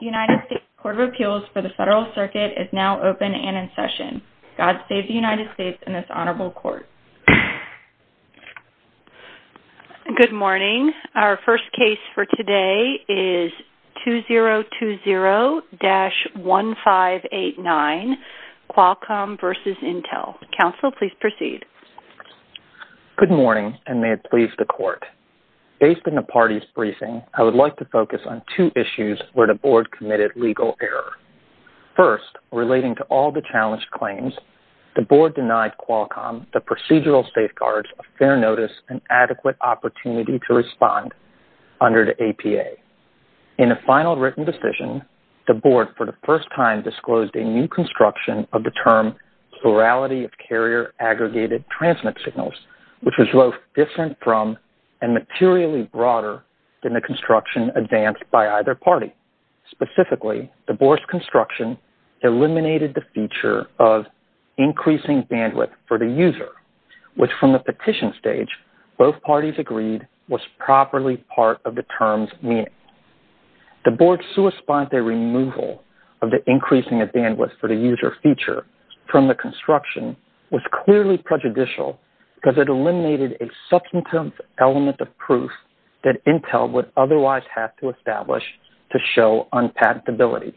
United States Court of Appeals for the Federal Circuit is now open and in session. God save the United States and this honorable court. Good morning. Our first case for today is 2020-1589 Qualcomm v. Intel. Counsel, please proceed. Good morning and may it please the court. I'd like to focus on two issues where the board committed legal error. First, relating to all the challenged claims, the board denied Qualcomm the procedural safeguards of fair notice and adequate opportunity to respond under the APA. In a final written decision, the board for the first time disclosed a new construction of the term plurality of carrier aggregated transmit signals, which was both different from and materially broader than the construction advanced by either party. Specifically, the board's construction eliminated the feature of increasing bandwidth for the user, which from the petition stage, both parties agreed was properly part of the term's meaning. The board's suicide removal of the increasing bandwidth for the user feature from the construction was clearly prejudicial because it eliminated a substantive element of proof that Intel would otherwise have to establish to show unpacked ability.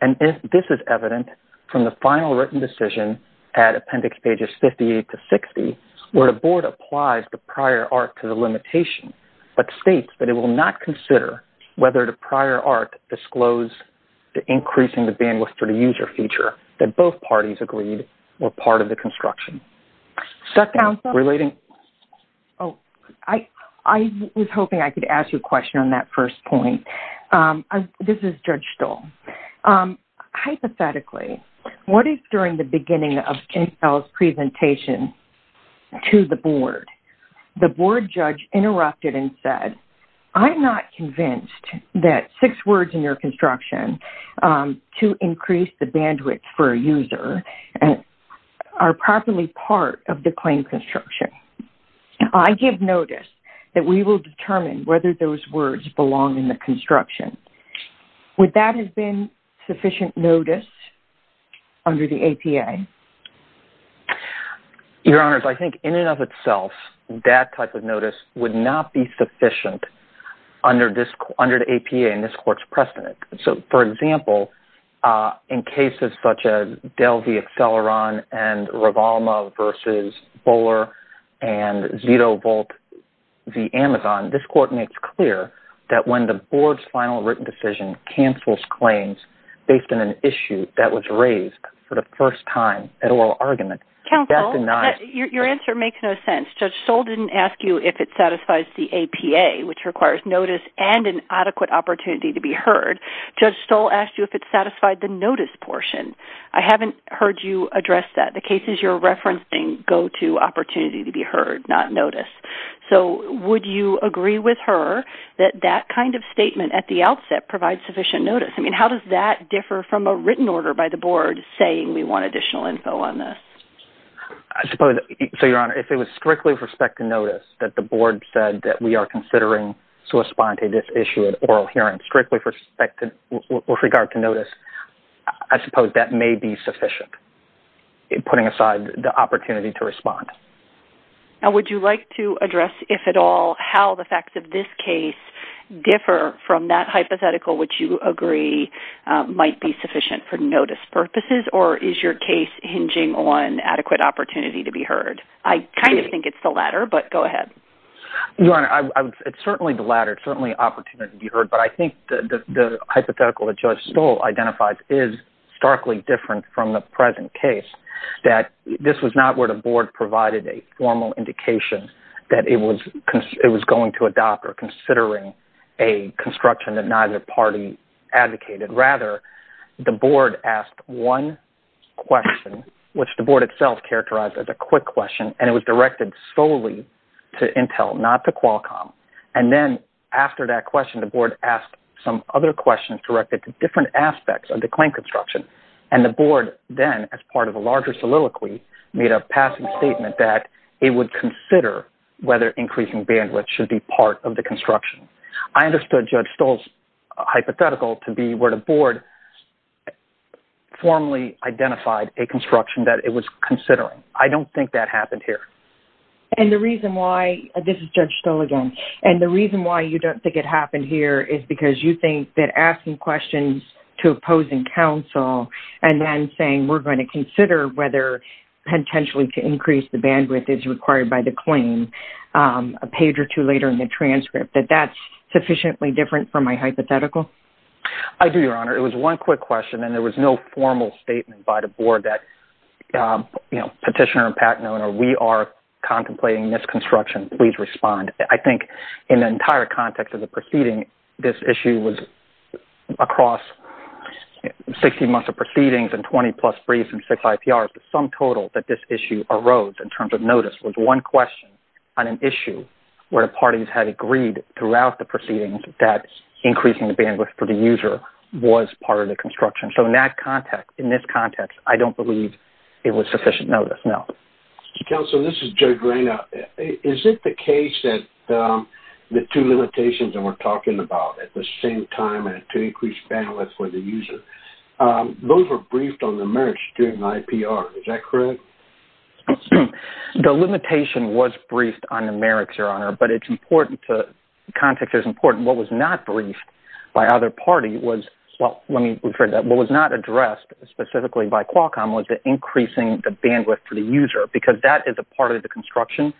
And this is evident from the final written decision at appendix pages 58 to 60, where the board applies the prior art to the limitation, but states that it will not consider whether the prior art disclosed the increasing the bandwidth for the user feature that both parties agreed were part of the construction. Second, relating... Oh, I was hoping I could ask you a question on that first point. This is Judge Stoll. Hypothetically, what is during the beginning of Intel's presentation to the board, the board judge interrupted and said, I'm not convinced that six words in your construction to increase the bandwidth for a user are properly part of the claim construction. I give notice that we will determine whether those words belong in the construction. Would that have been sufficient notice under the APA? Your Honors, I think in and of itself, that type of notice would not be sufficient under the APA in this court's precedent. So, for example, in cases such as Dell v. Acceleron and Revolma v. Bowler and Zito-Volt v. Amazon, this court makes clear that when the board's final written decision cancels claims based on an issue that was raised for the first time at oral argument... Counsel, your answer makes no sense. Judge Stoll didn't ask you if it satisfies the APA, which requires notice and an adequate opportunity to be heard. Judge Stoll asked you if it satisfied the notice portion. I haven't heard you address that. The cases you're referencing go to opportunity to be heard, not noticed. So, would you agree with her that that kind of statement at the outset provides sufficient notice? I mean, how does that differ from a written order by the board saying we want additional info on this? I suppose... So, your Honor, if it was strictly with respect to notice that the board said that we are considering to respond to this issue at oral hearing strictly with regard to notice, I suppose that may be sufficient, putting aside the opportunity to respond. Now, would you like to address, if at all, how the facts of this case differ from that hypothetical which you agree might be sufficient for notice purposes, or is your case hinging on adequate opportunity to be heard? I kind of think it's the latter, but go ahead. Your Honor, it's certainly the latter. It's certainly opportunity to be heard, but I think the hypothetical that Judge Stoll identifies is starkly different from the present case, that this was not where the board provided a formal indication that it was going to adopt or considering a construction that neither party advocated. Rather, the board asked one question, which the board itself characterized as a quick question, and it was directed solely to Intel, not to Qualcomm. And then, after that question, the board asked some other questions directed to different aspects of the claim construction, and the board then, as part of a larger soliloquy, made a passing statement that it would consider whether increasing bandwidth should be part of the construction. I understood Judge Stoll's hypothetical to be where the board formally identified a construction that it was considering. I don't think that happened here. And the reason why—this is Judge Stoll again—and the reason why you don't think it happened here is because you think that asking questions to opposing counsel and then saying, we're going to consider whether potentially to increase the bandwidth is required by the claim a page or two later in the transcript, that that's sufficiently different from my hypothetical? I do, Your Honor. It was one quick question, and there was no formal statement by the board that petitioner and patent owner, we are contemplating this construction. Please respond. I think in the entire context of the proceeding, this issue was across 60 months of proceedings and 20-plus briefs and six IPRs. The sum total that this issue arose in terms of notice was one question on an issue where the parties had agreed throughout the proceedings that increasing the bandwidth for the user was part of the construction. So in that context, in this context, I don't believe it was sufficient notice, no. Counsel, this is Judge Reina. Is it the case that the two limitations that we're talking about at the same time and to increase bandwidth for the user, those were briefed on the merits during the IPR. Is that correct? The limitation was briefed on the merits, Your Honor, but it's important to—the context is important. What was not briefed by either party was—well, let me rephrase that. What was not addressed specifically by Qualcomm was the increasing the bandwidth for the user because that is a part of the construction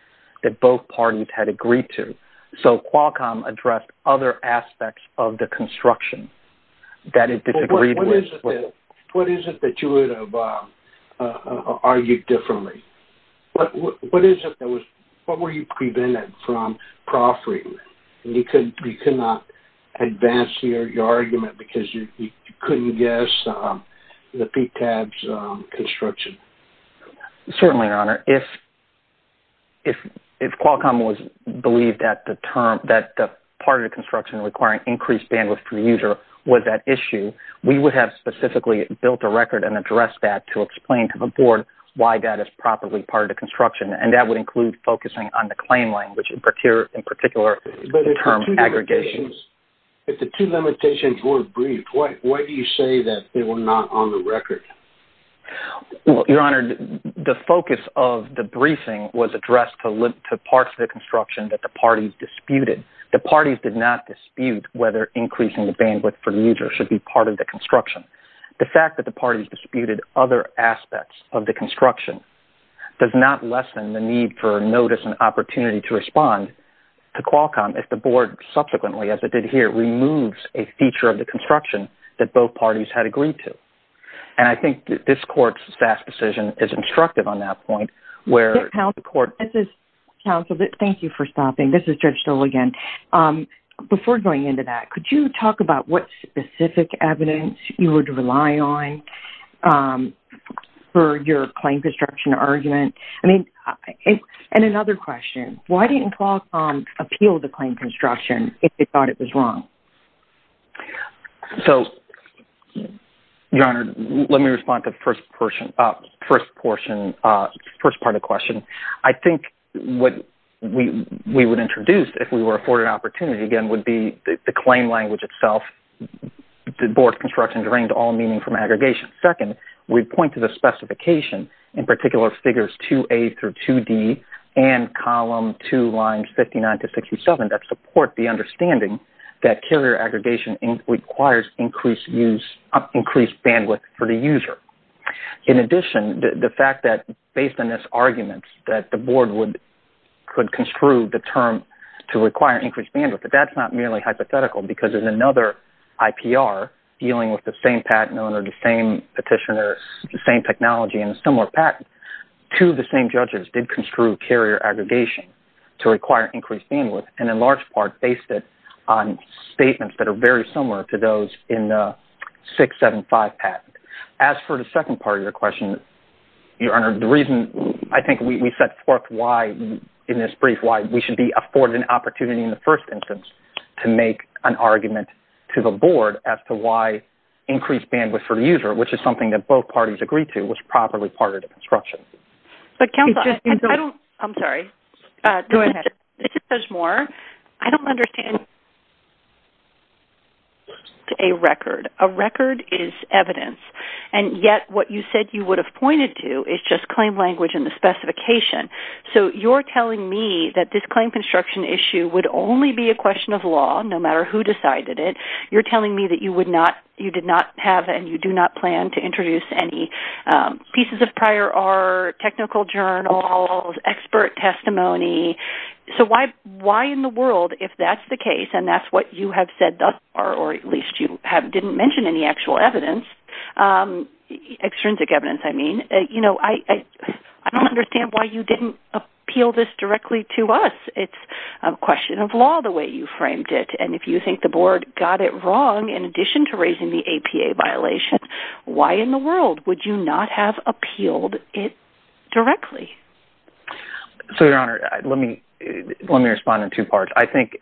that both parties had agreed to. So Qualcomm addressed other aspects of the construction that it disagreed with. What is it that you would have argued differently? What were you prevented from proffering? You could not advance your argument because you couldn't guess the PTAB's construction. Certainly, Your Honor. If Qualcomm was—believed that the term—that part of the construction requiring increased bandwidth for the user was that issue, we would have specifically built a record and addressed that to explain to the board why that is properly part of the construction, and that would include focusing on the claim language, in particular, the term aggregation. But if the two limitations were briefed, why do you say that they were not on the record? Well, Your Honor, the focus of the briefing was addressed to parts of the construction that the parties disputed. The parties did not dispute whether increasing the bandwidth for the user should be part of the construction. The fact that the parties disputed other aspects of the construction does not lessen the need for notice and opportunity to respond to Qualcomm if the board subsequently, as it did here, removes a feature of the construction that both parties had agreed to. And I think this court's fast decision is instructive on that point, where the court— Counsel, thank you for stopping. This is Judge Stoll again. Before going into that, could you talk about what specific evidence you would rely on for your claim construction argument? And another question, why didn't Qualcomm appeal the claim construction if it thought it was wrong? So, Your Honor, let me respond to the first portion—first part of the question. I think what we would introduce if we were afforded an opportunity, again, would be the claim language itself. The board's construction deranged all meaning from aggregation. Second, we'd point to the specification, in particular figures 2A through 2D and column 2, lines 59 to 67, that support the understanding that carrier aggregation requires increased bandwidth for the user. In addition, the fact that, based on this argument, that the board could construe the term to require increased bandwidth. But that's not merely hypothetical, because in another IPR dealing with the same patent owner, the same petitioner, the same technology, and a similar patent, two of the same judges did construe carrier aggregation to require increased bandwidth, and in large part based it on statements that are very similar to those in the 675 patent. As for the second part of your question, Your Honor, the reason I think we set forth why, in this brief, why we should be afforded an opportunity in the first instance to make an argument to the board as to why increased bandwidth for the user, which is something that both parties agreed to, was properly part of the construction. But counsel, I'm sorry. Go ahead. This is Judge Moore. I don't understand a record. A record is evidence, and yet what you said you would have pointed to is just claim language and the specification. So you're telling me that this claim construction issue would only be a question of law, no matter who decided it. You're telling me that you did not have and you do not plan to introduce any pieces of prior art, technical journals, expert testimony. So why in the world, if that's the case and that's what you have said thus far, or at least you didn't mention any actual evidence, extrinsic evidence, I mean, I don't understand why you didn't appeal this directly to us. It's a question of law the way you framed it. And if you think the board got it wrong in addition to raising the APA violation, why in the world would you not have appealed it directly? So, Your Honor, let me respond in two parts. I think,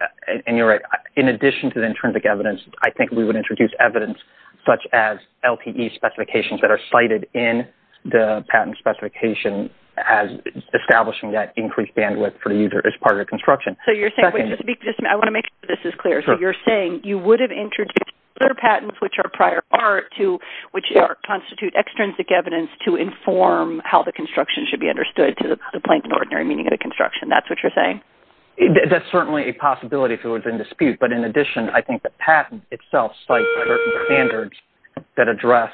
and you're right, in addition to the intrinsic evidence, I think we would introduce evidence such as LTE specifications that are cited in the patent specification as establishing that increased bandwidth for the user as part of the construction. I want to make sure this is clear. So you're saying you would have introduced other patents, which are prior art, which constitute extrinsic evidence to inform how the construction should be understood, to the plain and ordinary meaning of the construction. That's what you're saying? That's certainly a possibility if it was in dispute. But in addition, I think the patent itself cites standards that address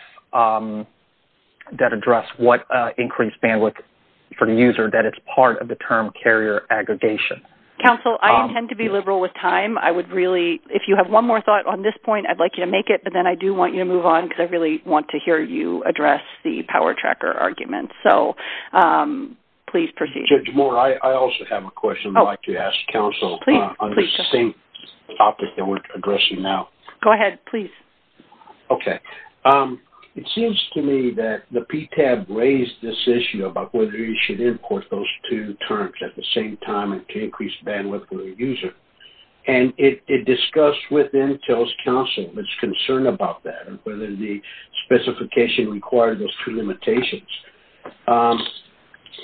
what increased bandwidth for the user, that it's part of the term carrier aggregation. Counsel, I intend to be liberal with time. I would really, if you have one more thought on this point, I'd like you to make it, but then I do want you to move on because I really want to hear you address the power tracker argument. So please proceed. Judge Moore, I also have a question I'd like to ask counsel on the same topic that we're addressing now. Go ahead, please. Okay. It seems to me that the PTAB raised this issue about whether you should import those two terms at the same time to increase bandwidth for the user. And it discussed with Intel's counsel its concern about that and whether the specification required those two limitations.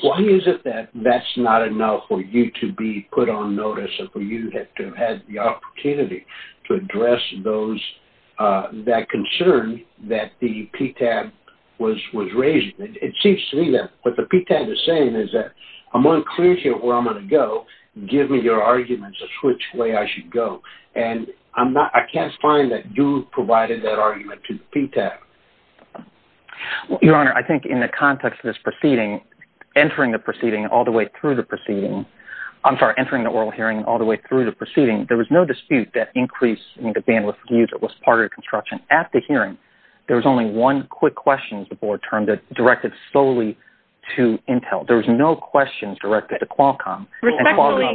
Why is it that that's not enough for you to be put on notice and for you to have had the opportunity to address that concern that the PTAB was raising? It seems to me that what the PTAB is saying is that I'm unclear here where I'm going to go. Give me your arguments as to which way I should go. And I can't find that you provided that argument to the PTAB. Your Honor, I think in the context of this proceeding, entering the proceeding all the way through the proceeding, I'm sorry, entering the oral hearing all the way through the proceeding, there was no dispute that increasing the bandwidth for the user was part of the construction. At the hearing, there was only one quick question, the board term, that directed solely to Intel. There was no questions directed to Qualcomm. Respectfully,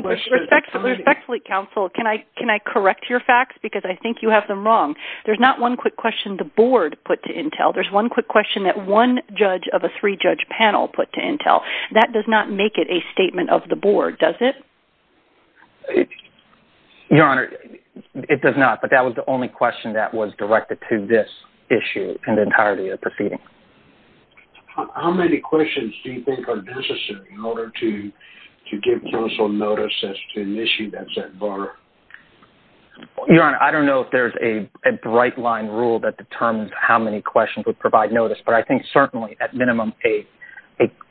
counsel, can I correct your facts? Because I think you have them wrong. There's not one quick question the board put to Intel. There's one quick question that one judge of a three-judge panel put to Intel. That does not make it a statement of the board, does it? Your Honor, it does not. But that was the only question that was directed to this issue in the entirety of the proceeding. How many questions do you think are necessary in order to give counsel notice as to an issue that's at bar? Your Honor, I don't know if there's a bright-line rule that determines how many questions would provide notice, but I think certainly, at minimum, a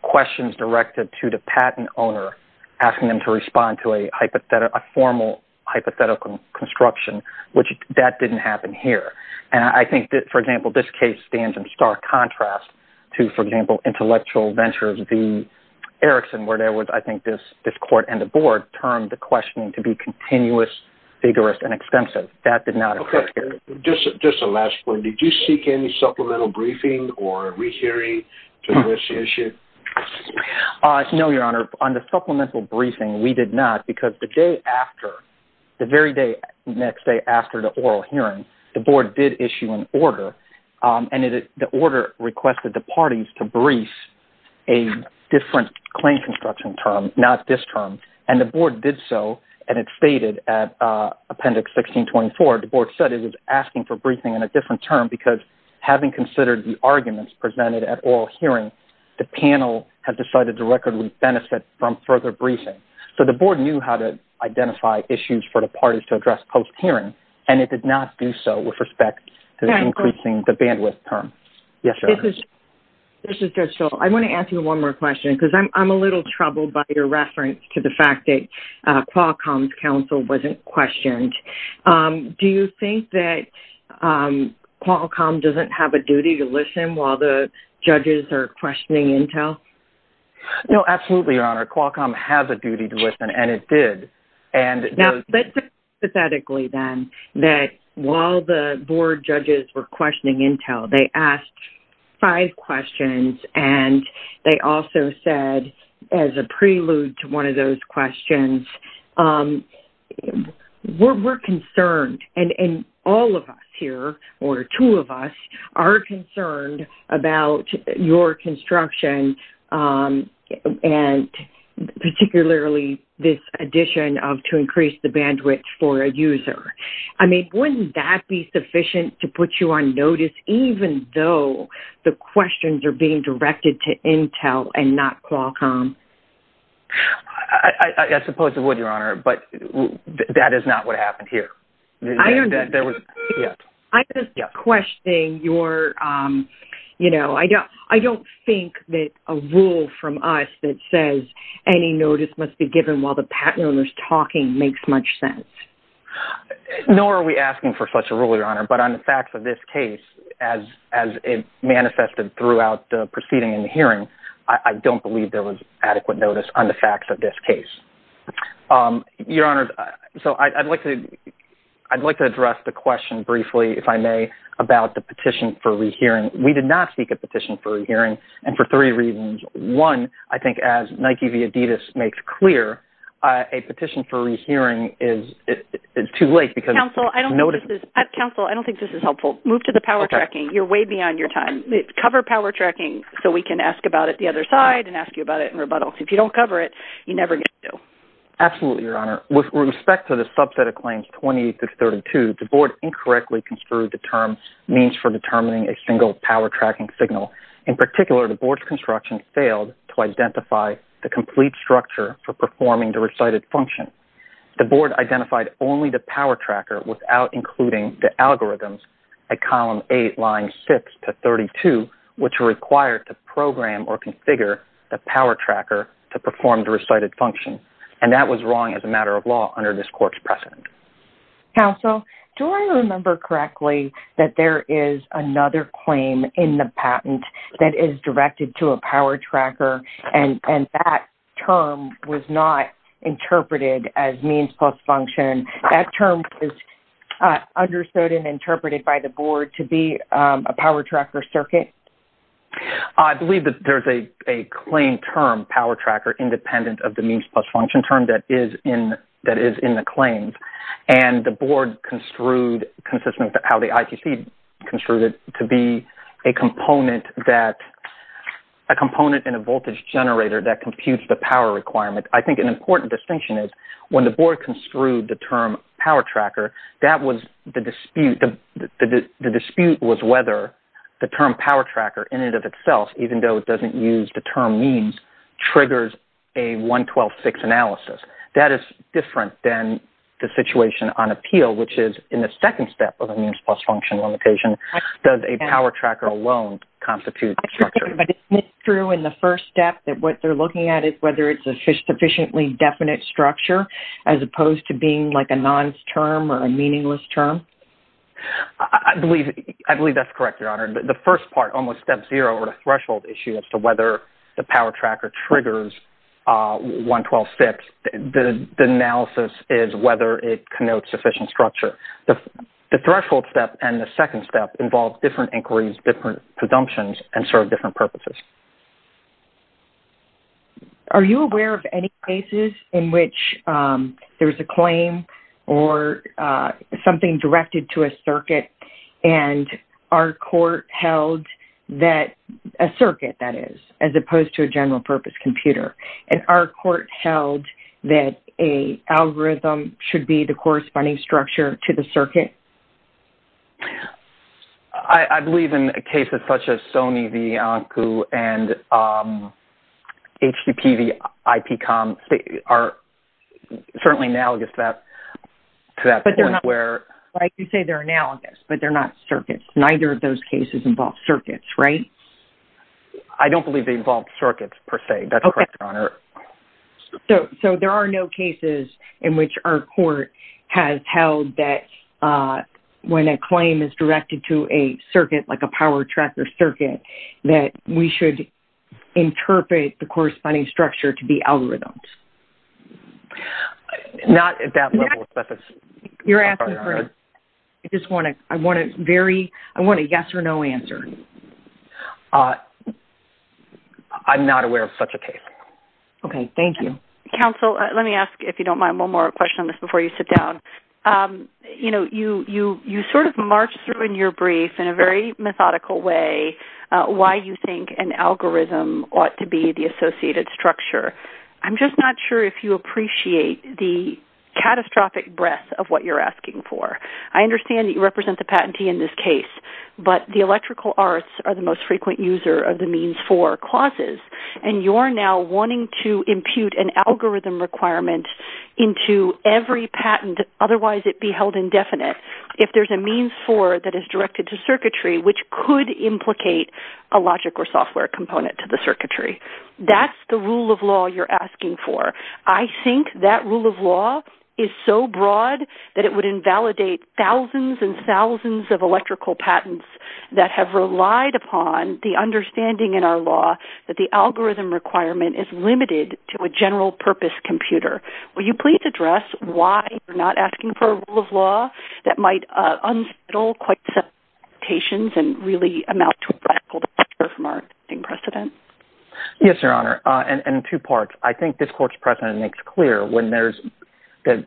question is directed to the patent owner, asking them to respond to a formal hypothetical construction, which that didn't happen here. And I think, for example, this case stands in stark contrast to, for example, Intellectual Ventures v. Erickson, where there was, I think, this court and the board termed the questioning to be continuous, vigorous, and extensive. That did not occur here. Just a last point. Did you seek any supplemental briefing or rehearing to this issue? No, Your Honor. On the supplemental briefing, we did not, because the day after, the very next day after the oral hearing, the board did issue an order, and the order requested the parties to brief a different claim construction term, not this term. And the board did so, and it stated at Appendix 1624, the board said it was asking for briefing in a different term because, having considered the arguments presented at oral hearing, the panel had decided to recordly benefit from further briefing. So the board knew how to identify issues for the parties to address post-hearing, and it did not do so with respect to increasing the bandwidth term. Yes, Your Honor. This is Judge Schull. I want to ask you one more question because I'm a little troubled by your reference to the fact that Qualcomm's counsel wasn't questioned. Do you think that Qualcomm doesn't have a duty to listen while the judges are questioning Intel? No, absolutely, Your Honor. Qualcomm has a duty to listen, and it did. Now, let's say hypothetically, then, that while the board judges were questioning Intel, they asked five questions, and they also said, as a prelude to one of those questions, we're concerned, and all of us here, or two of us, are concerned about your construction and particularly this addition of to increase the bandwidth for a user. I mean, wouldn't that be sufficient to put you on notice even though the questions are being directed to Intel and not Qualcomm? I suppose it would, Your Honor, but that is not what happened here. I'm just questioning your, you know, I don't think that a rule from us that says any notice must be given while the owner is talking makes much sense. Nor are we asking for such a rule, Your Honor, but on the facts of this case, as it manifested throughout the proceeding and the hearing, I don't believe there was adequate notice on the facts of this case. Your Honor, so I'd like to address the question briefly, if I may, about the petition for rehearing. We did not seek a petition for rehearing, and for three reasons. One, I think, as Nike V. Adidas makes clear, a petition for rehearing is too late because notice— Counsel, I don't think this is—Counsel, I don't think this is helpful. Move to the power tracking. Okay. You're way beyond your time. Cover power tracking so we can ask about it the other side and ask you about it in rebuttal. If you don't cover it, you never get to. Absolutely, Your Honor. With respect to the subset of claims 28-32, the Board incorrectly construed the term means for determining a single power tracking signal. In particular, the Board's construction failed to identify the complete structure for performing the recited function. The Board identified only the power tracker without including the algorithms at column 8, lines 6-32, which are required to program or configure the power tracker to perform the recited function, and that was wrong as a matter of law under this Court's precedent. Counsel, do I remember correctly that there is another claim in the patent that is directed to a power tracker, and that term was not interpreted as means plus function? That term was understood and interpreted by the Board to be a power tracker circuit? I believe that there is a claim term, power tracker, independent of the means plus function term that is in the claims, and the Board construed, consistent with how the ITC construed it, to be a component in a voltage generator that computes the power requirement. I think an important distinction is when the Board construed the term power tracker, the dispute was whether the term power tracker in and of itself, even though it doesn't use the term means, triggers a 112-6 analysis. That is different than the situation on appeal, which is in the second step of a means plus function limitation, does a power tracker alone constitute the structure? But isn't it true in the first step that what they're looking at is whether it's a sufficiently definite structure, as opposed to being like a non-term or a meaningless term? I believe that's correct, Your Honor. The first part, almost step zero, or the threshold issue as to whether the power tracker triggers 112-6, the analysis is whether it connotes sufficient structure. The threshold step and the second step involve different inquiries, different presumptions, and serve different purposes. Are you aware of any cases in which there's a claim or something directed to a circuit, and our court held that a circuit, that is, as opposed to a general-purpose computer, and our court held that an algorithm should be the corresponding structure to the circuit? I believe in cases such as Sony v. Anku and HCP v. IPCOM are certainly analogous to that point. I can say they're analogous, but they're not circuits. Neither of those cases involve circuits, right? I don't believe they involve circuits, per se. That's correct, Your Honor. So there are no cases in which our court has held that when a claim is directed to a circuit, like a power tracker circuit, that we should interpret the corresponding structure to be algorithms? Not at that level, but... You're asking for... I just want a very... I want a yes or no answer. I'm not aware of such a case. Okay. Thank you. Counsel, let me ask, if you don't mind, one more question on this before you sit down. You know, you sort of marched through in your brief in a very methodical way why you think an algorithm ought to be the associated structure. I'm just not sure if you appreciate the catastrophic breadth of what you're asking for. I understand that you represent the patentee in this case, but the electrical arts are the most frequent user of the means-for clauses, and you're now wanting to impute an algorithm requirement into every patent, otherwise it be held indefinite, if there's a means-for that is directed to circuitry, which could implicate a logic or software component to the circuitry. That's the rule of law you're asking for. I think that rule of law is so broad that it would invalidate thousands and thousands of electrical patents that have relied upon the understanding in our law that the algorithm requirement is limited to a general-purpose computer. Will you please address why you're not asking for a rule of law that might unsettle quite a set of expectations and really amount to a radical departure from our existing precedent? Yes, Your Honor, and in two parts. I think this Court's precedent makes clear when there's an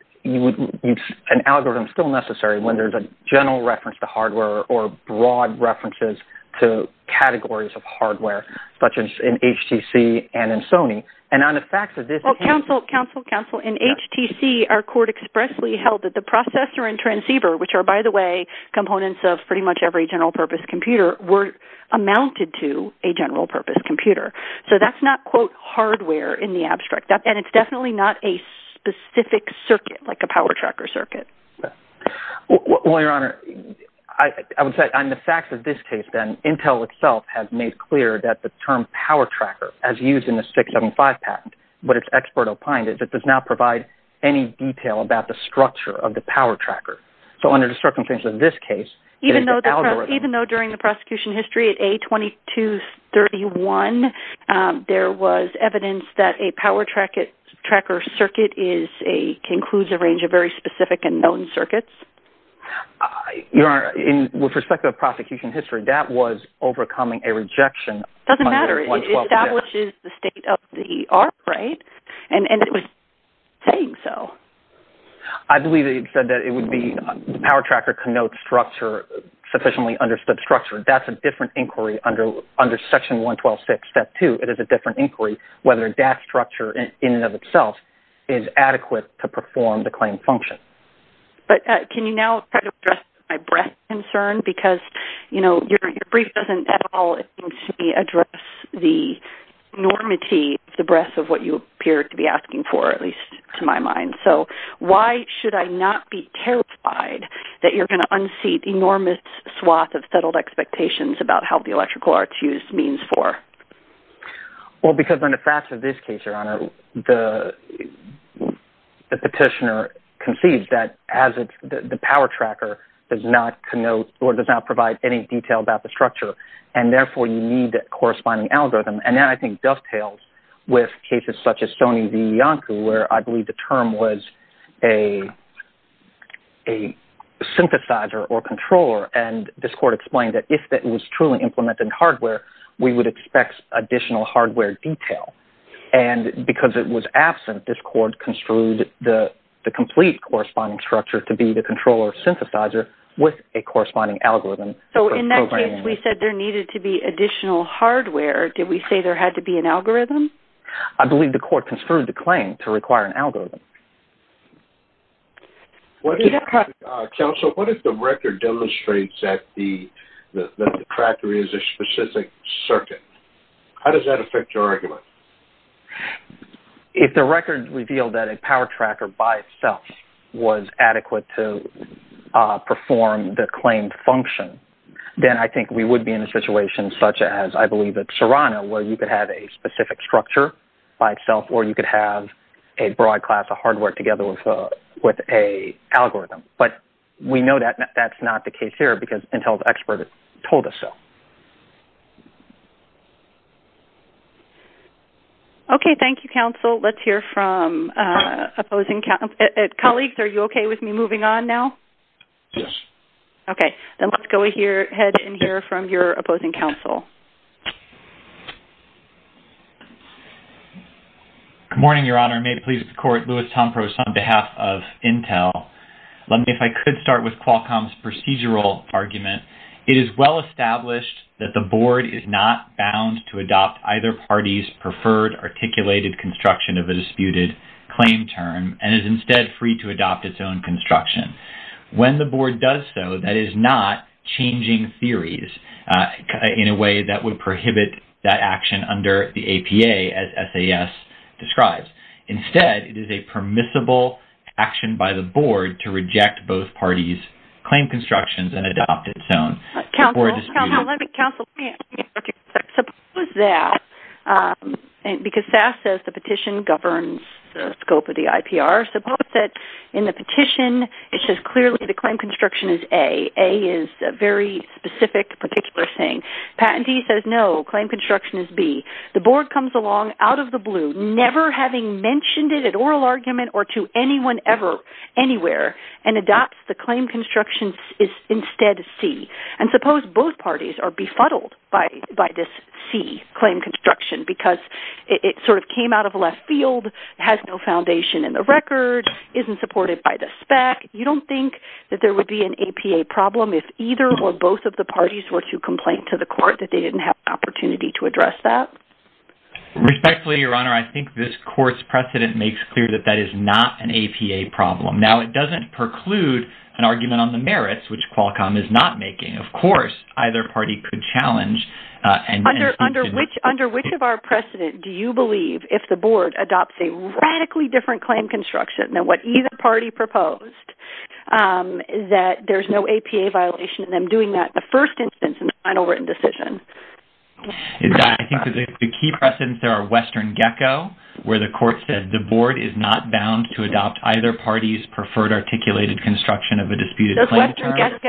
algorithm still necessary when there's a general reference to hardware or broad references to categories of hardware, such as in HTC and in Sony. And on the facts of this— Well, counsel, counsel, counsel, in HTC, our Court expressly held that the processor and transceiver, which are, by the way, components of pretty much every general-purpose computer, amounted to a general-purpose computer. So that's not, quote, hardware in the abstract. And it's definitely not a specific circuit, like a power tracker circuit. Well, Your Honor, I would say on the facts of this case, then, Intel itself has made clear that the term power tracker, as used in the 675 patent, but it's expert-opined, it does not provide any detail about the structure of the power tracker. So under the circumstances of this case— Even though during the prosecution history at A2231, there was evidence that a power tracker circuit includes a range of very specific and known circuits? Your Honor, with respect to the prosecution history, that was overcoming a rejection— And it was saying so. I believe it said that it would be— the power tracker connotes structure, sufficiently understood structure. That's a different inquiry under Section 1126, Step 2. It is a different inquiry whether that structure in and of itself is adequate to perform the claim function. But can you now try to address my breath concern? Because, you know, your brief doesn't at all, it seems to me, enormity the breadth of what you appear to be asking for, at least to my mind. So why should I not be terrified that you're going to unseat enormous swath of settled expectations about how the electrical arts use means for? Well, because under the facts of this case, Your Honor, the petitioner concedes that the power tracker does not connote or does not provide any detail about the structure, and therefore you need that corresponding algorithm. And that, I think, dovetails with cases such as Sony v. Yonku, where I believe the term was a synthesizer or controller. And this court explained that if it was truly implemented hardware, we would expect additional hardware detail. And because it was absent, this court construed the complete corresponding structure to be the controller synthesizer with a corresponding algorithm. So in that case, we said there needed to be additional hardware. Did we say there had to be an algorithm? I believe the court construed the claim to require an algorithm. Counsel, what if the record demonstrates that the tracker is a specific circuit? How does that affect your argument? If the record revealed that a power tracker by itself was adequate to perform the claimed function, then I think we would be in a situation such as, I believe, at Serrano, where you could have a specific structure by itself or you could have a broad class of hardware together with an algorithm. But we know that that's not the case here because Intel's expert told us so. Okay, thank you, Counsel. Let's hear from opposing counsel. Colleagues, are you okay with me moving on now? Yes. Okay. Then let's go ahead and hear from your opposing counsel. Good morning, Your Honor. May it please the Court, Louis Tomprous on behalf of Intel. Let me, if I could, start with Qualcomm's procedural argument. It is well established that the board is not bound to adopt either party's preferred articulated construction of a disputed claim term and is instead free to adopt its own construction. When the board does so, that is not changing theories in a way that would prohibit that action under the APA, as SAS describes. Instead, it is a permissible action by the board to reject both parties' claim constructions and adopt its own before a dispute. Counsel, let me interject. Suppose that, because SAS says the petition governs the scope of the IPR, suppose that in the petition it says clearly the claim construction is A. A is a very specific, particular thing. Patentee says no, claim construction is B. The board comes along, out of the blue, never having mentioned it at oral argument or to anyone ever, anywhere, and adopts the claim construction is instead C. And suppose both parties are befuddled by this C, claim construction, because it sort of came out of left field, has no foundation in the record, isn't supported by the SPAC. You don't think that there would be an APA problem if either or both of the parties were to complain to the court that they didn't have an opportunity to address that? Respectfully, Your Honor, I think this court's precedent makes clear that that is not an APA problem. Now, it doesn't preclude an argument on the merits, which Qualcomm is not making. Of course, either party could challenge. Under which of our precedent do you believe if the board adopts a radically different claim construction than what either party proposed, that there's no APA violation in them doing that in the first instance in the final written decision? I think the key precedents there are Western Gecko, where the court said the board is not bound to adopt either party's preferred articulated construction of a disputed claim.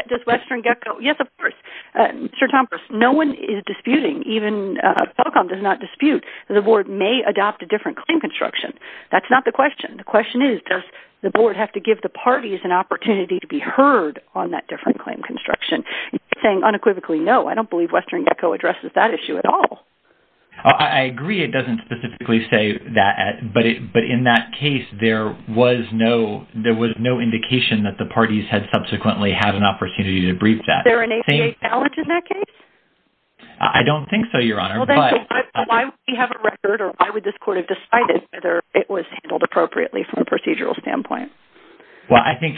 Does Western Gecko... Yes, of course. Mr. Tompkins, no one is disputing. Even Qualcomm does not dispute that the board may adopt a different claim construction. That's not the question. The question is, does the board have to give the parties an opportunity to be heard on that different claim construction? Saying unequivocally, no, I don't believe Western Gecko addresses that issue at all. I agree it doesn't specifically say that, but in that case there was no indication that the parties had subsequently had an opportunity to brief that. Is there an APA challenge in that case? I don't think so, Your Honour. Why would we have a record, or why would this court have decided whether it was handled appropriately from a procedural standpoint? Well, I think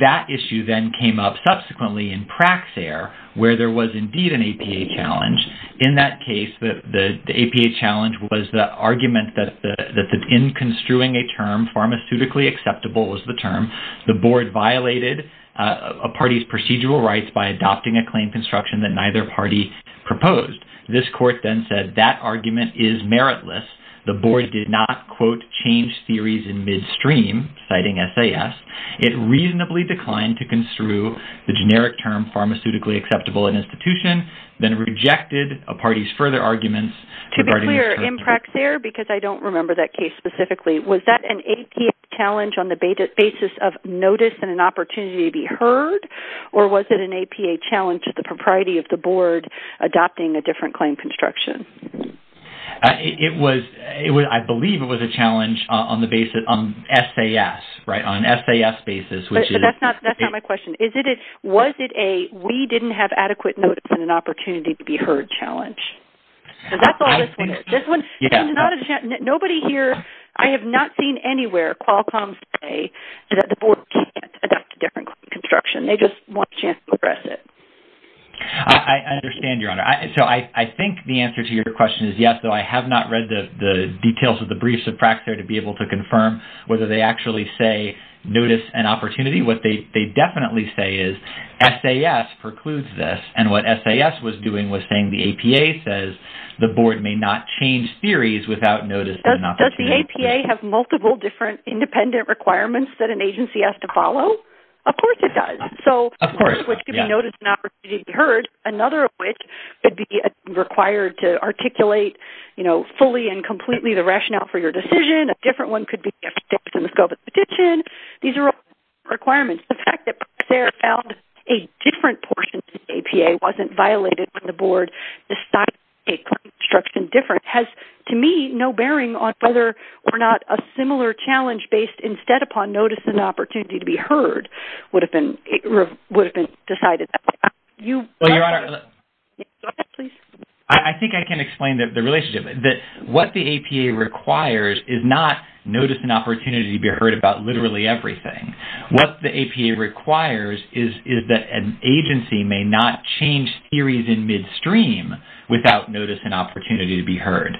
that issue then came up subsequently in Praxair, where there was indeed an APA challenge. In that case, the APA challenge was the argument that in construing a term, pharmaceutically acceptable was the term, the board violated a party's procedural rights by adopting a claim construction that neither party proposed. This court then said that argument is meritless. The board did not, quote, change theories in midstream, citing SAS. It reasonably declined to construe the generic term pharmaceutically acceptable in institution, then rejected a party's further arguments. To be clear, in Praxair, because I don't remember that case specifically, was that an APA challenge on the basis of notice and an opportunity to be heard, or was it an APA challenge of the propriety of the board adopting a different claim construction? I believe it was a challenge on the basis of SAS, on an SAS basis. But that's not my question. Was it a we didn't have adequate notice and an opportunity to be heard challenge? That's all this one is. Nobody here, I have not seen anywhere, Qualcomm say that the board can't adopt a different claim construction. They just want a chance to address it. I understand, Your Honor. I think the answer to your question is yes, though I have not read the details of the briefs of Praxair to be able to confirm whether they actually say notice and opportunity. What they definitely say is SAS precludes this. What SAS was doing was saying the APA says the board may not change theories without notice and an opportunity to be heard. Does the APA have multiple different independent requirements that an agency has to follow? Of course it does. Of course, yes. So notice and opportunity to be heard, another of which would be required to articulate fully and completely the rationale for your decision. A different one could be a fix in the scope of the petition. These are all requirements. The fact that Praxair found a different portion of the APA wasn't violated when the board decided to make the claim construction different has, to me, no bearing on whether or not a similar challenge based instead upon notice and opportunity to be heard would have been decided that way. I think I can explain the relationship. What the APA requires is not notice and opportunity to be heard about literally everything. What the APA requires is that an agency may not change theories in midstream without notice and opportunity to be heard.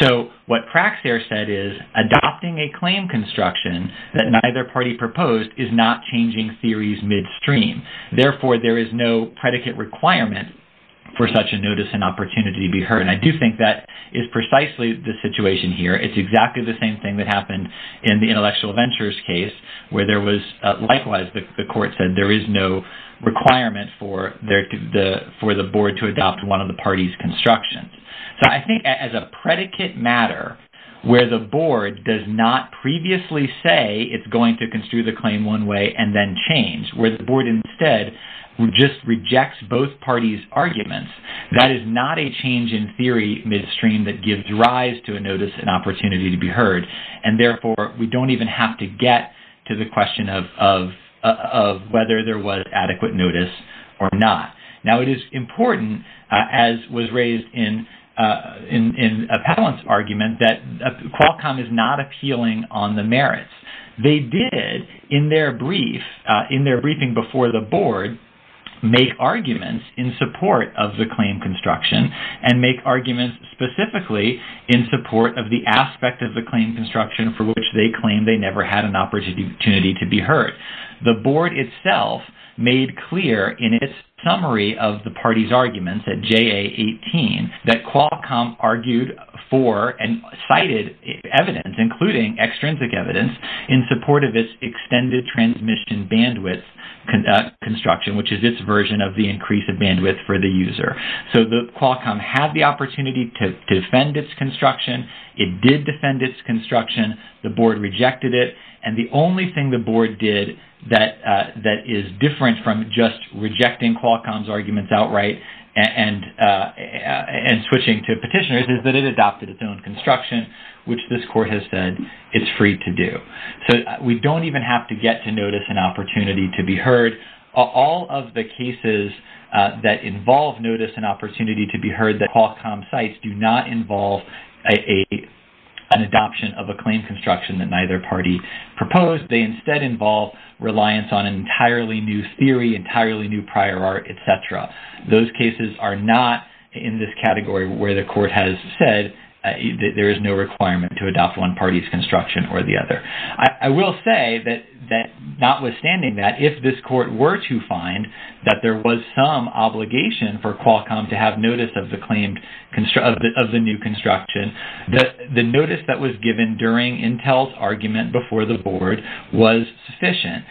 So what Praxair said is adopting a claim construction that neither party proposed is not changing theories midstream. Therefore, there is no predicate requirement for such a notice and opportunity to be heard. I do think that is precisely the situation here. It's exactly the same thing that happened in the Intellectual Ventures case where there was, likewise, the court said, there is no requirement for the board to adopt one of the party's constructions. So I think as a predicate matter where the board does not previously say it's going to construe the claim one way and then change, where the board instead just rejects both parties' arguments, that is not a change in theory midstream that gives rise to a notice and opportunity to be heard. And therefore, we don't even have to get to the question of whether there was adequate notice or not. Now, it is important, as was raised in Appellant's argument, that Qualcomm is not appealing on the merits. They did, in their briefing before the board, make arguments in support of the claim construction and make arguments specifically in support of the aspect of the claim construction for which they claim they never had an opportunity to be heard. The board itself made clear in its summary of the party's arguments at JA18 that Qualcomm argued for and cited evidence, including extrinsic evidence, in support of its extended transmission bandwidth construction, which is its version of the increase of bandwidth for the user. So Qualcomm had the opportunity to defend its construction it did defend its construction, the board rejected it, and the only thing the board did that is different from just rejecting Qualcomm's arguments outright and switching to petitioners is that it adopted its own construction, which this court has said it's free to do. So we don't even have to get to notice and opportunity to be heard. All of the cases that involve notice and opportunity to be heard at Qualcomm sites do not involve an adoption of a claim construction that neither party proposed. They instead involve reliance on an entirely new theory, entirely new prior art, et cetera. Those cases are not in this category where the court has said that there is no requirement to adopt one party's construction or the other. I will say that notwithstanding that, if this court were to find that there was some obligation for Qualcomm to have notice of the new construction, the notice that was given during Intel's argument before the board was sufficient.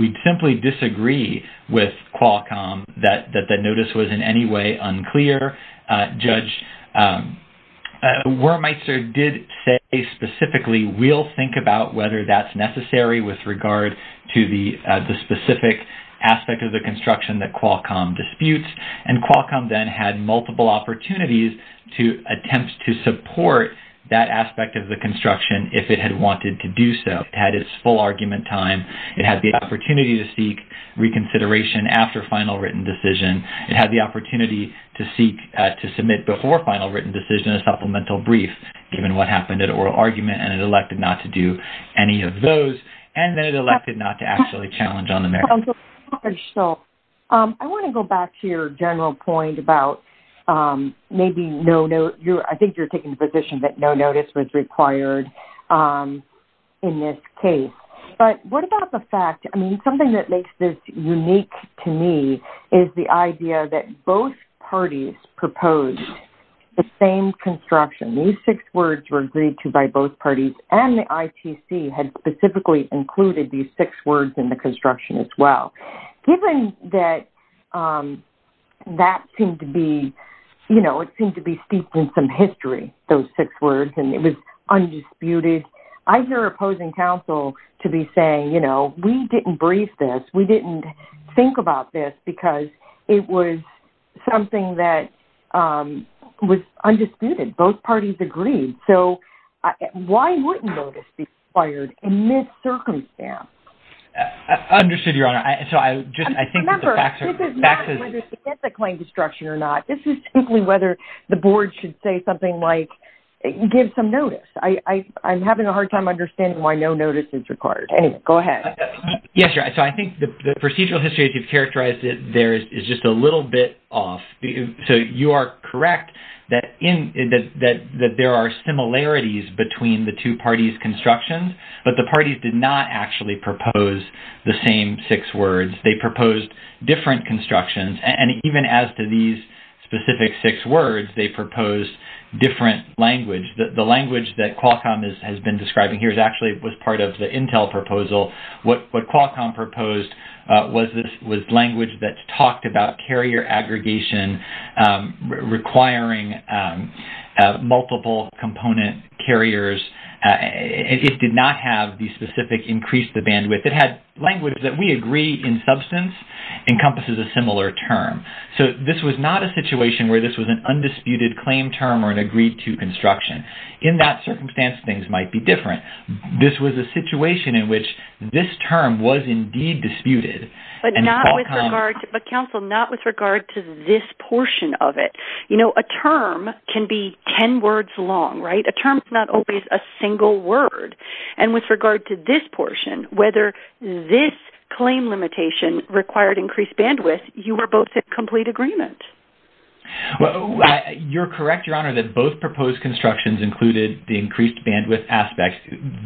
We simply disagree with Qualcomm that the notice was in any way unclear. Judge Wormeister did say specifically we'll think about whether that's necessary with regard to the specific aspect of the construction that Qualcomm disputes, and Qualcomm then had multiple opportunities to attempt to support that aspect of the construction if it had wanted to do so. It had its full argument time. It had the opportunity to seek reconsideration after final written decision. It had the opportunity to seek to submit before final written decision a supplemental brief given what happened at oral argument, and it elected not to do any of those, and then it elected not to actually challenge on the merits. I want to go back to your general point about maybe no notice. I think you're taking the position that no notice was required in this case. But what about the fact, I mean, something that makes this unique to me is the idea that both parties proposed the same construction. These six words were agreed to by both parties, and the ITC had specifically included these six words in the construction as well. Given that that seemed to be steeped in some history, those six words, and it was undisputed, I hear opposing counsel to be saying, you know, we didn't brief this. We didn't think about this because it was something that was undisputed. Both parties agreed. So why wouldn't notice be required in this circumstance? Understood, Your Honor. Remember, this is not whether it's against a claim destruction or not. This is simply whether the board should say something like give some notice. I'm having a hard time understanding why no notice is required. Anyway, go ahead. Yes, Your Honor. So I think the procedural history as you've characterized it there is just a little bit off. So you are correct that there are similarities between the two parties' constructions, but the parties did not actually propose the same six words. They proposed different constructions. And even as to these specific six words, they proposed different language. The language that Qualcomm has been describing here actually was part of the Intel proposal. What Qualcomm proposed was language that talked about carrier aggregation requiring multiple component carriers. It did not have the specific increase the bandwidth. It had language that we agree in substance encompasses a similar term. So this was not a situation where this was an undisputed claim term or an agreed to construction. In that circumstance, things might be different. This was a situation in which this term was indeed disputed. But counsel, not with regard to this portion of it. You know, a term can be ten words long, right? A term is not always a single word. And with regard to this portion, whether this claim limitation required increased bandwidth, you were both in complete agreement. You're correct, Your Honor, that both proposed constructions included the increased bandwidth aspect.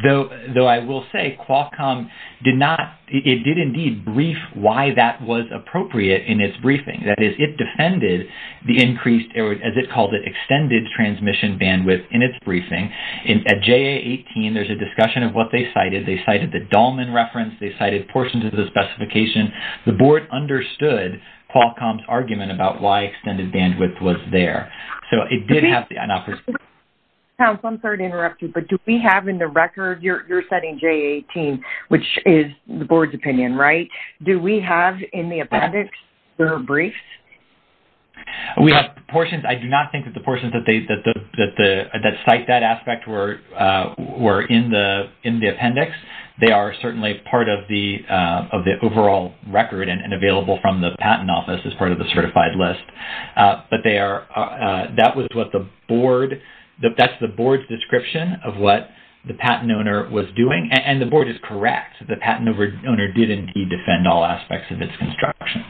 Though I will say Qualcomm did not, it did indeed brief why that was appropriate in its briefing. That is, it defended the increased, as it called it, extended transmission bandwidth in its briefing. At JA-18, there's a discussion of what they cited. They cited the Dahlman reference. They cited portions of the specification. The Board understood Qualcomm's argument about why extended bandwidth was there. So it did have the- Counsel, I'm sorry to interrupt you, but do we have in the record, you're citing JA-18, which is the Board's opinion, right? Do we have in the appendix their briefs? We have the portions. I do not think that the portions that cite that aspect were in the appendix. They are certainly part of the overall record and available from the Patent Office as part of the certified list. But they are-that was what the Board-that's the Board's description of what the patent owner was doing. And the Board is correct. The patent owner did indeed defend all aspects of its construction.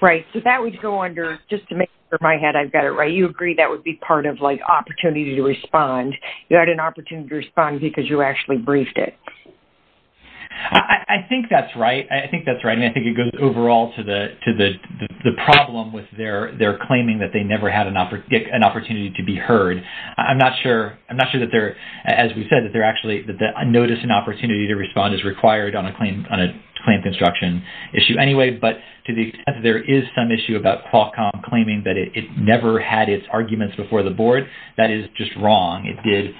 Right. So that would go under-just to make sure in my head I've got it right, you agree that would be part of, like, opportunity to respond. You had an opportunity to respond because you actually briefed it. I think that's right. I think that's right. I mean, I think it goes overall to the problem with their claiming that they never had an opportunity to be heard. I'm not sure-I'm not sure that they're-as we said, that they're actually-that notice and opportunity to respond is required on a claim construction issue anyway. But to the extent that there is some issue about Qualcomm claiming that it never had its arguments before the Board, that is just wrong. It did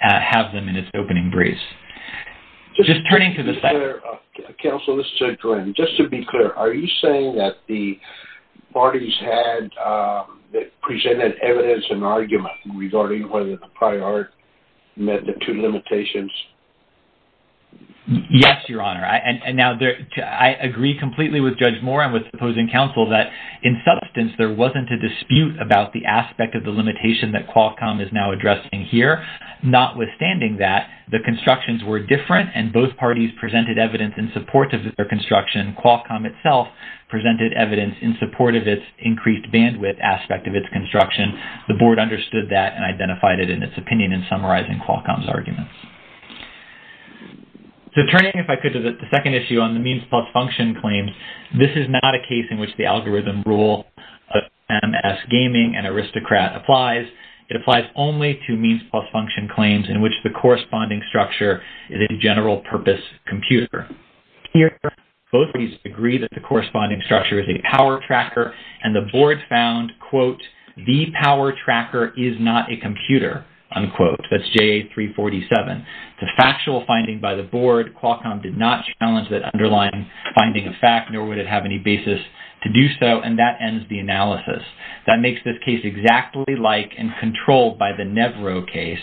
have them in its opening briefs. Just turning to the- Counsel, this is Judge Warren. Just to be clear, are you saying that the parties had presented evidence and argument regarding whether the prior art met the two limitations? Yes, Your Honor. I agree completely with Judge Moore and with the opposing counsel that in substance there wasn't a dispute about the aspect of the limitation that Qualcomm is now addressing here. Notwithstanding that, the constructions were different and both parties presented evidence in support of their construction. Qualcomm itself presented evidence in support of its increased bandwidth aspect of its construction. The Board understood that and identified it in its opinion in summarizing Qualcomm's arguments. So turning, if I could, to the second issue on the means-plus-function claims, this is not a case in which the algorithm rule of MS Gaming and Aristocrat applies. It applies only to means-plus-function claims in which the corresponding structure is a general-purpose computer. Here, both parties agree that the corresponding structure is a power tracker, and the Board found, quote, the power tracker is not a computer, unquote. That's JA-347. It's a factual finding by the Board. Qualcomm did not challenge that underlying finding of fact, nor would it have any basis to do so. And that ends the analysis. That makes this case exactly like and controlled by the Nevro case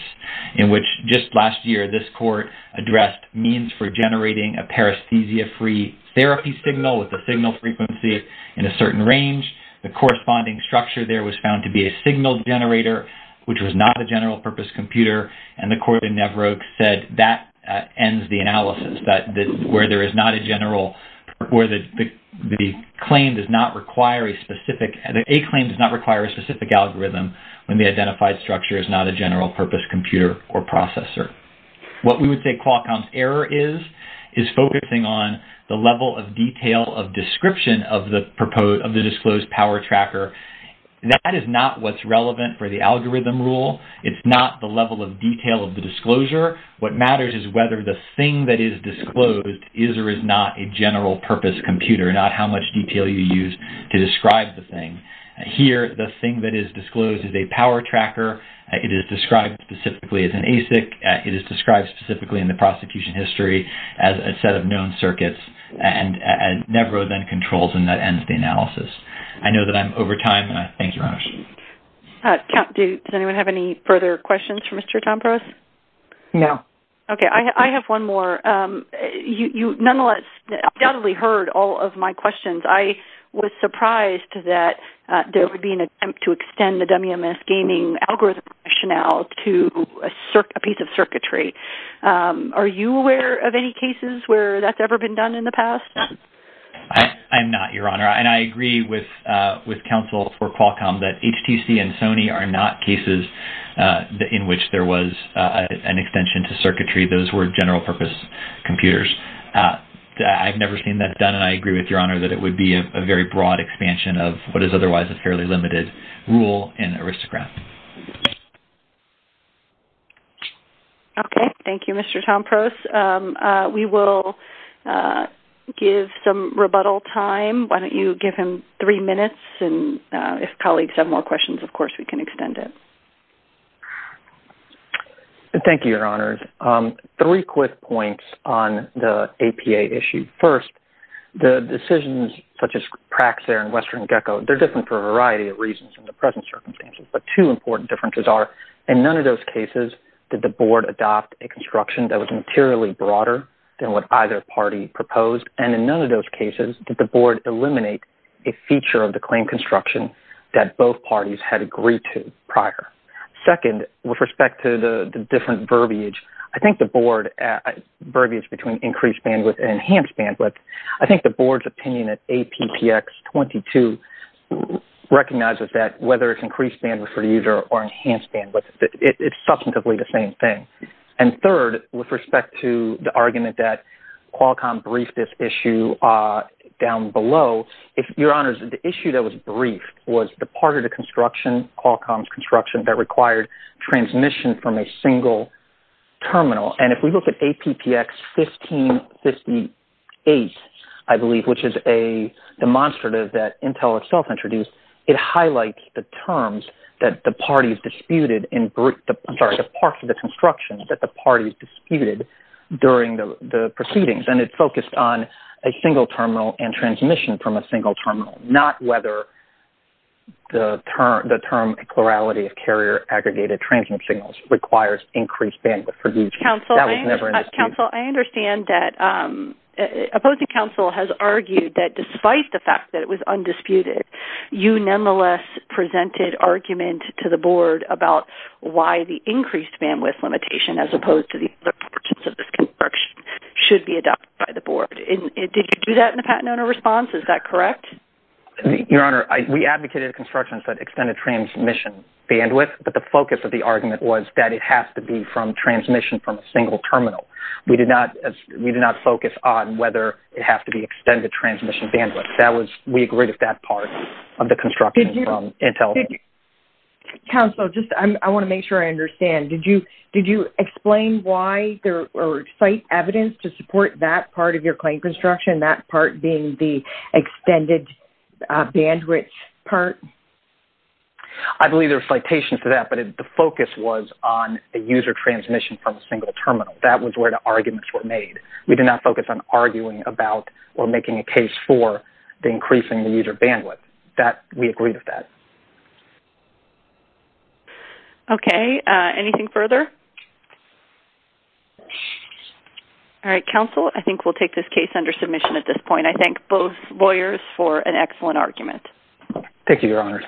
in which, just last year, this court addressed means for generating a paresthesia-free therapy signal with a signal frequency in a certain range. The corresponding structure there was found to be a signal generator, which was not a general-purpose computer, and the court in Nevro said that ends the analysis where the claim does not require a specific algorithm when the identified structure is not a general-purpose computer or processor. What we would say Qualcomm's error is, is focusing on the level of detail of description of the disclosed power tracker. That is not what's relevant for the algorithm rule. It's not the level of detail of the disclosure. What matters is whether the thing that is disclosed is or is not a general-purpose computer, not how much detail you use to describe the thing. Here, the thing that is disclosed is a power tracker. It is described specifically as an ASIC. It is described specifically in the prosecution history as a set of known circuits, and Nevro then controls, and that ends the analysis. I know that I'm over time, and I thank you very much. Does anyone have any further questions for Mr. Tompras? No. Okay, I have one more. You, nonetheless, undoubtedly heard all of my questions. I was surprised that there would be an attempt to extend the WMS gaming algorithm rationale to a piece of circuitry. Are you aware of any cases where that's ever been done in the past? I'm not, Your Honor, and I agree with counsel for Qualcomm that HTC and Sony are not cases in which there was an extension to circuitry. Those were general-purpose computers. I've never seen that done, and I agree with Your Honor that it would be a very broad expansion of what is otherwise a fairly limited rule in Aristocrat. Okay, thank you, Mr. Tompras. We will give some rebuttal time. Why don't you give him three minutes, and if colleagues have more questions, of course, we can extend it. Thank you, Your Honors. Three quick points on the APA issue. First, the decisions such as Praxair and Western Gecko, they're different for a variety of reasons in the present circumstances, but two important differences are in none of those cases did the board adopt a construction that was materially broader than what either party proposed, and in none of those cases did the board eliminate a feature of the claim construction that both parties had agreed to prior. Second, with respect to the different verbiage, I think the board's opinion at APPX 22 recognizes that whether it's increased bandwidth for the user or enhanced bandwidth, it's substantively the same thing. And third, with respect to the argument that Qualcomm briefed this issue down below, Your Honors, the issue that was briefed was the part of the construction, Qualcomm's construction, that required transmission from a single terminal, and if we look at APPX 1558, I believe, which is a demonstrative that Intel itself introduced, it highlights the terms that the parties disputed in brief, I'm sorry, the parts of the construction that the parties disputed during the proceedings, and it focused on a single terminal and transmission from a single terminal, not whether the term plurality of carrier-aggregated transmission signals requires increased bandwidth. Counsel, I understand that opposing counsel has argued that despite the fact that it was undisputed, you nonetheless presented argument to the board about why the increased bandwidth limitation, as opposed to the other portions of this construction, should be adopted by the board. Did you do that in a patent owner response? Is that correct? Your Honor, we advocated a construction that extended transmission bandwidth, but the focus of the argument was that it has to be from transmission from a single terminal. We did not focus on whether it has to be extended transmission bandwidth. We agreed with that part of the construction from Intel. Counsel, I want to make sure I understand. Did you explain why or cite evidence to support that part of your claim construction, that part being the extended bandwidth part? I believe there are citations to that, but the focus was on the user transmission from a single terminal. That was where the arguments were made. We did not focus on arguing about or making a case for the increase in the user bandwidth. We agreed with that. Okay. Anything further? All right. Counsel, I think we'll take this case under submission at this point. I thank both lawyers for an excellent argument. Thank you, Your Honor.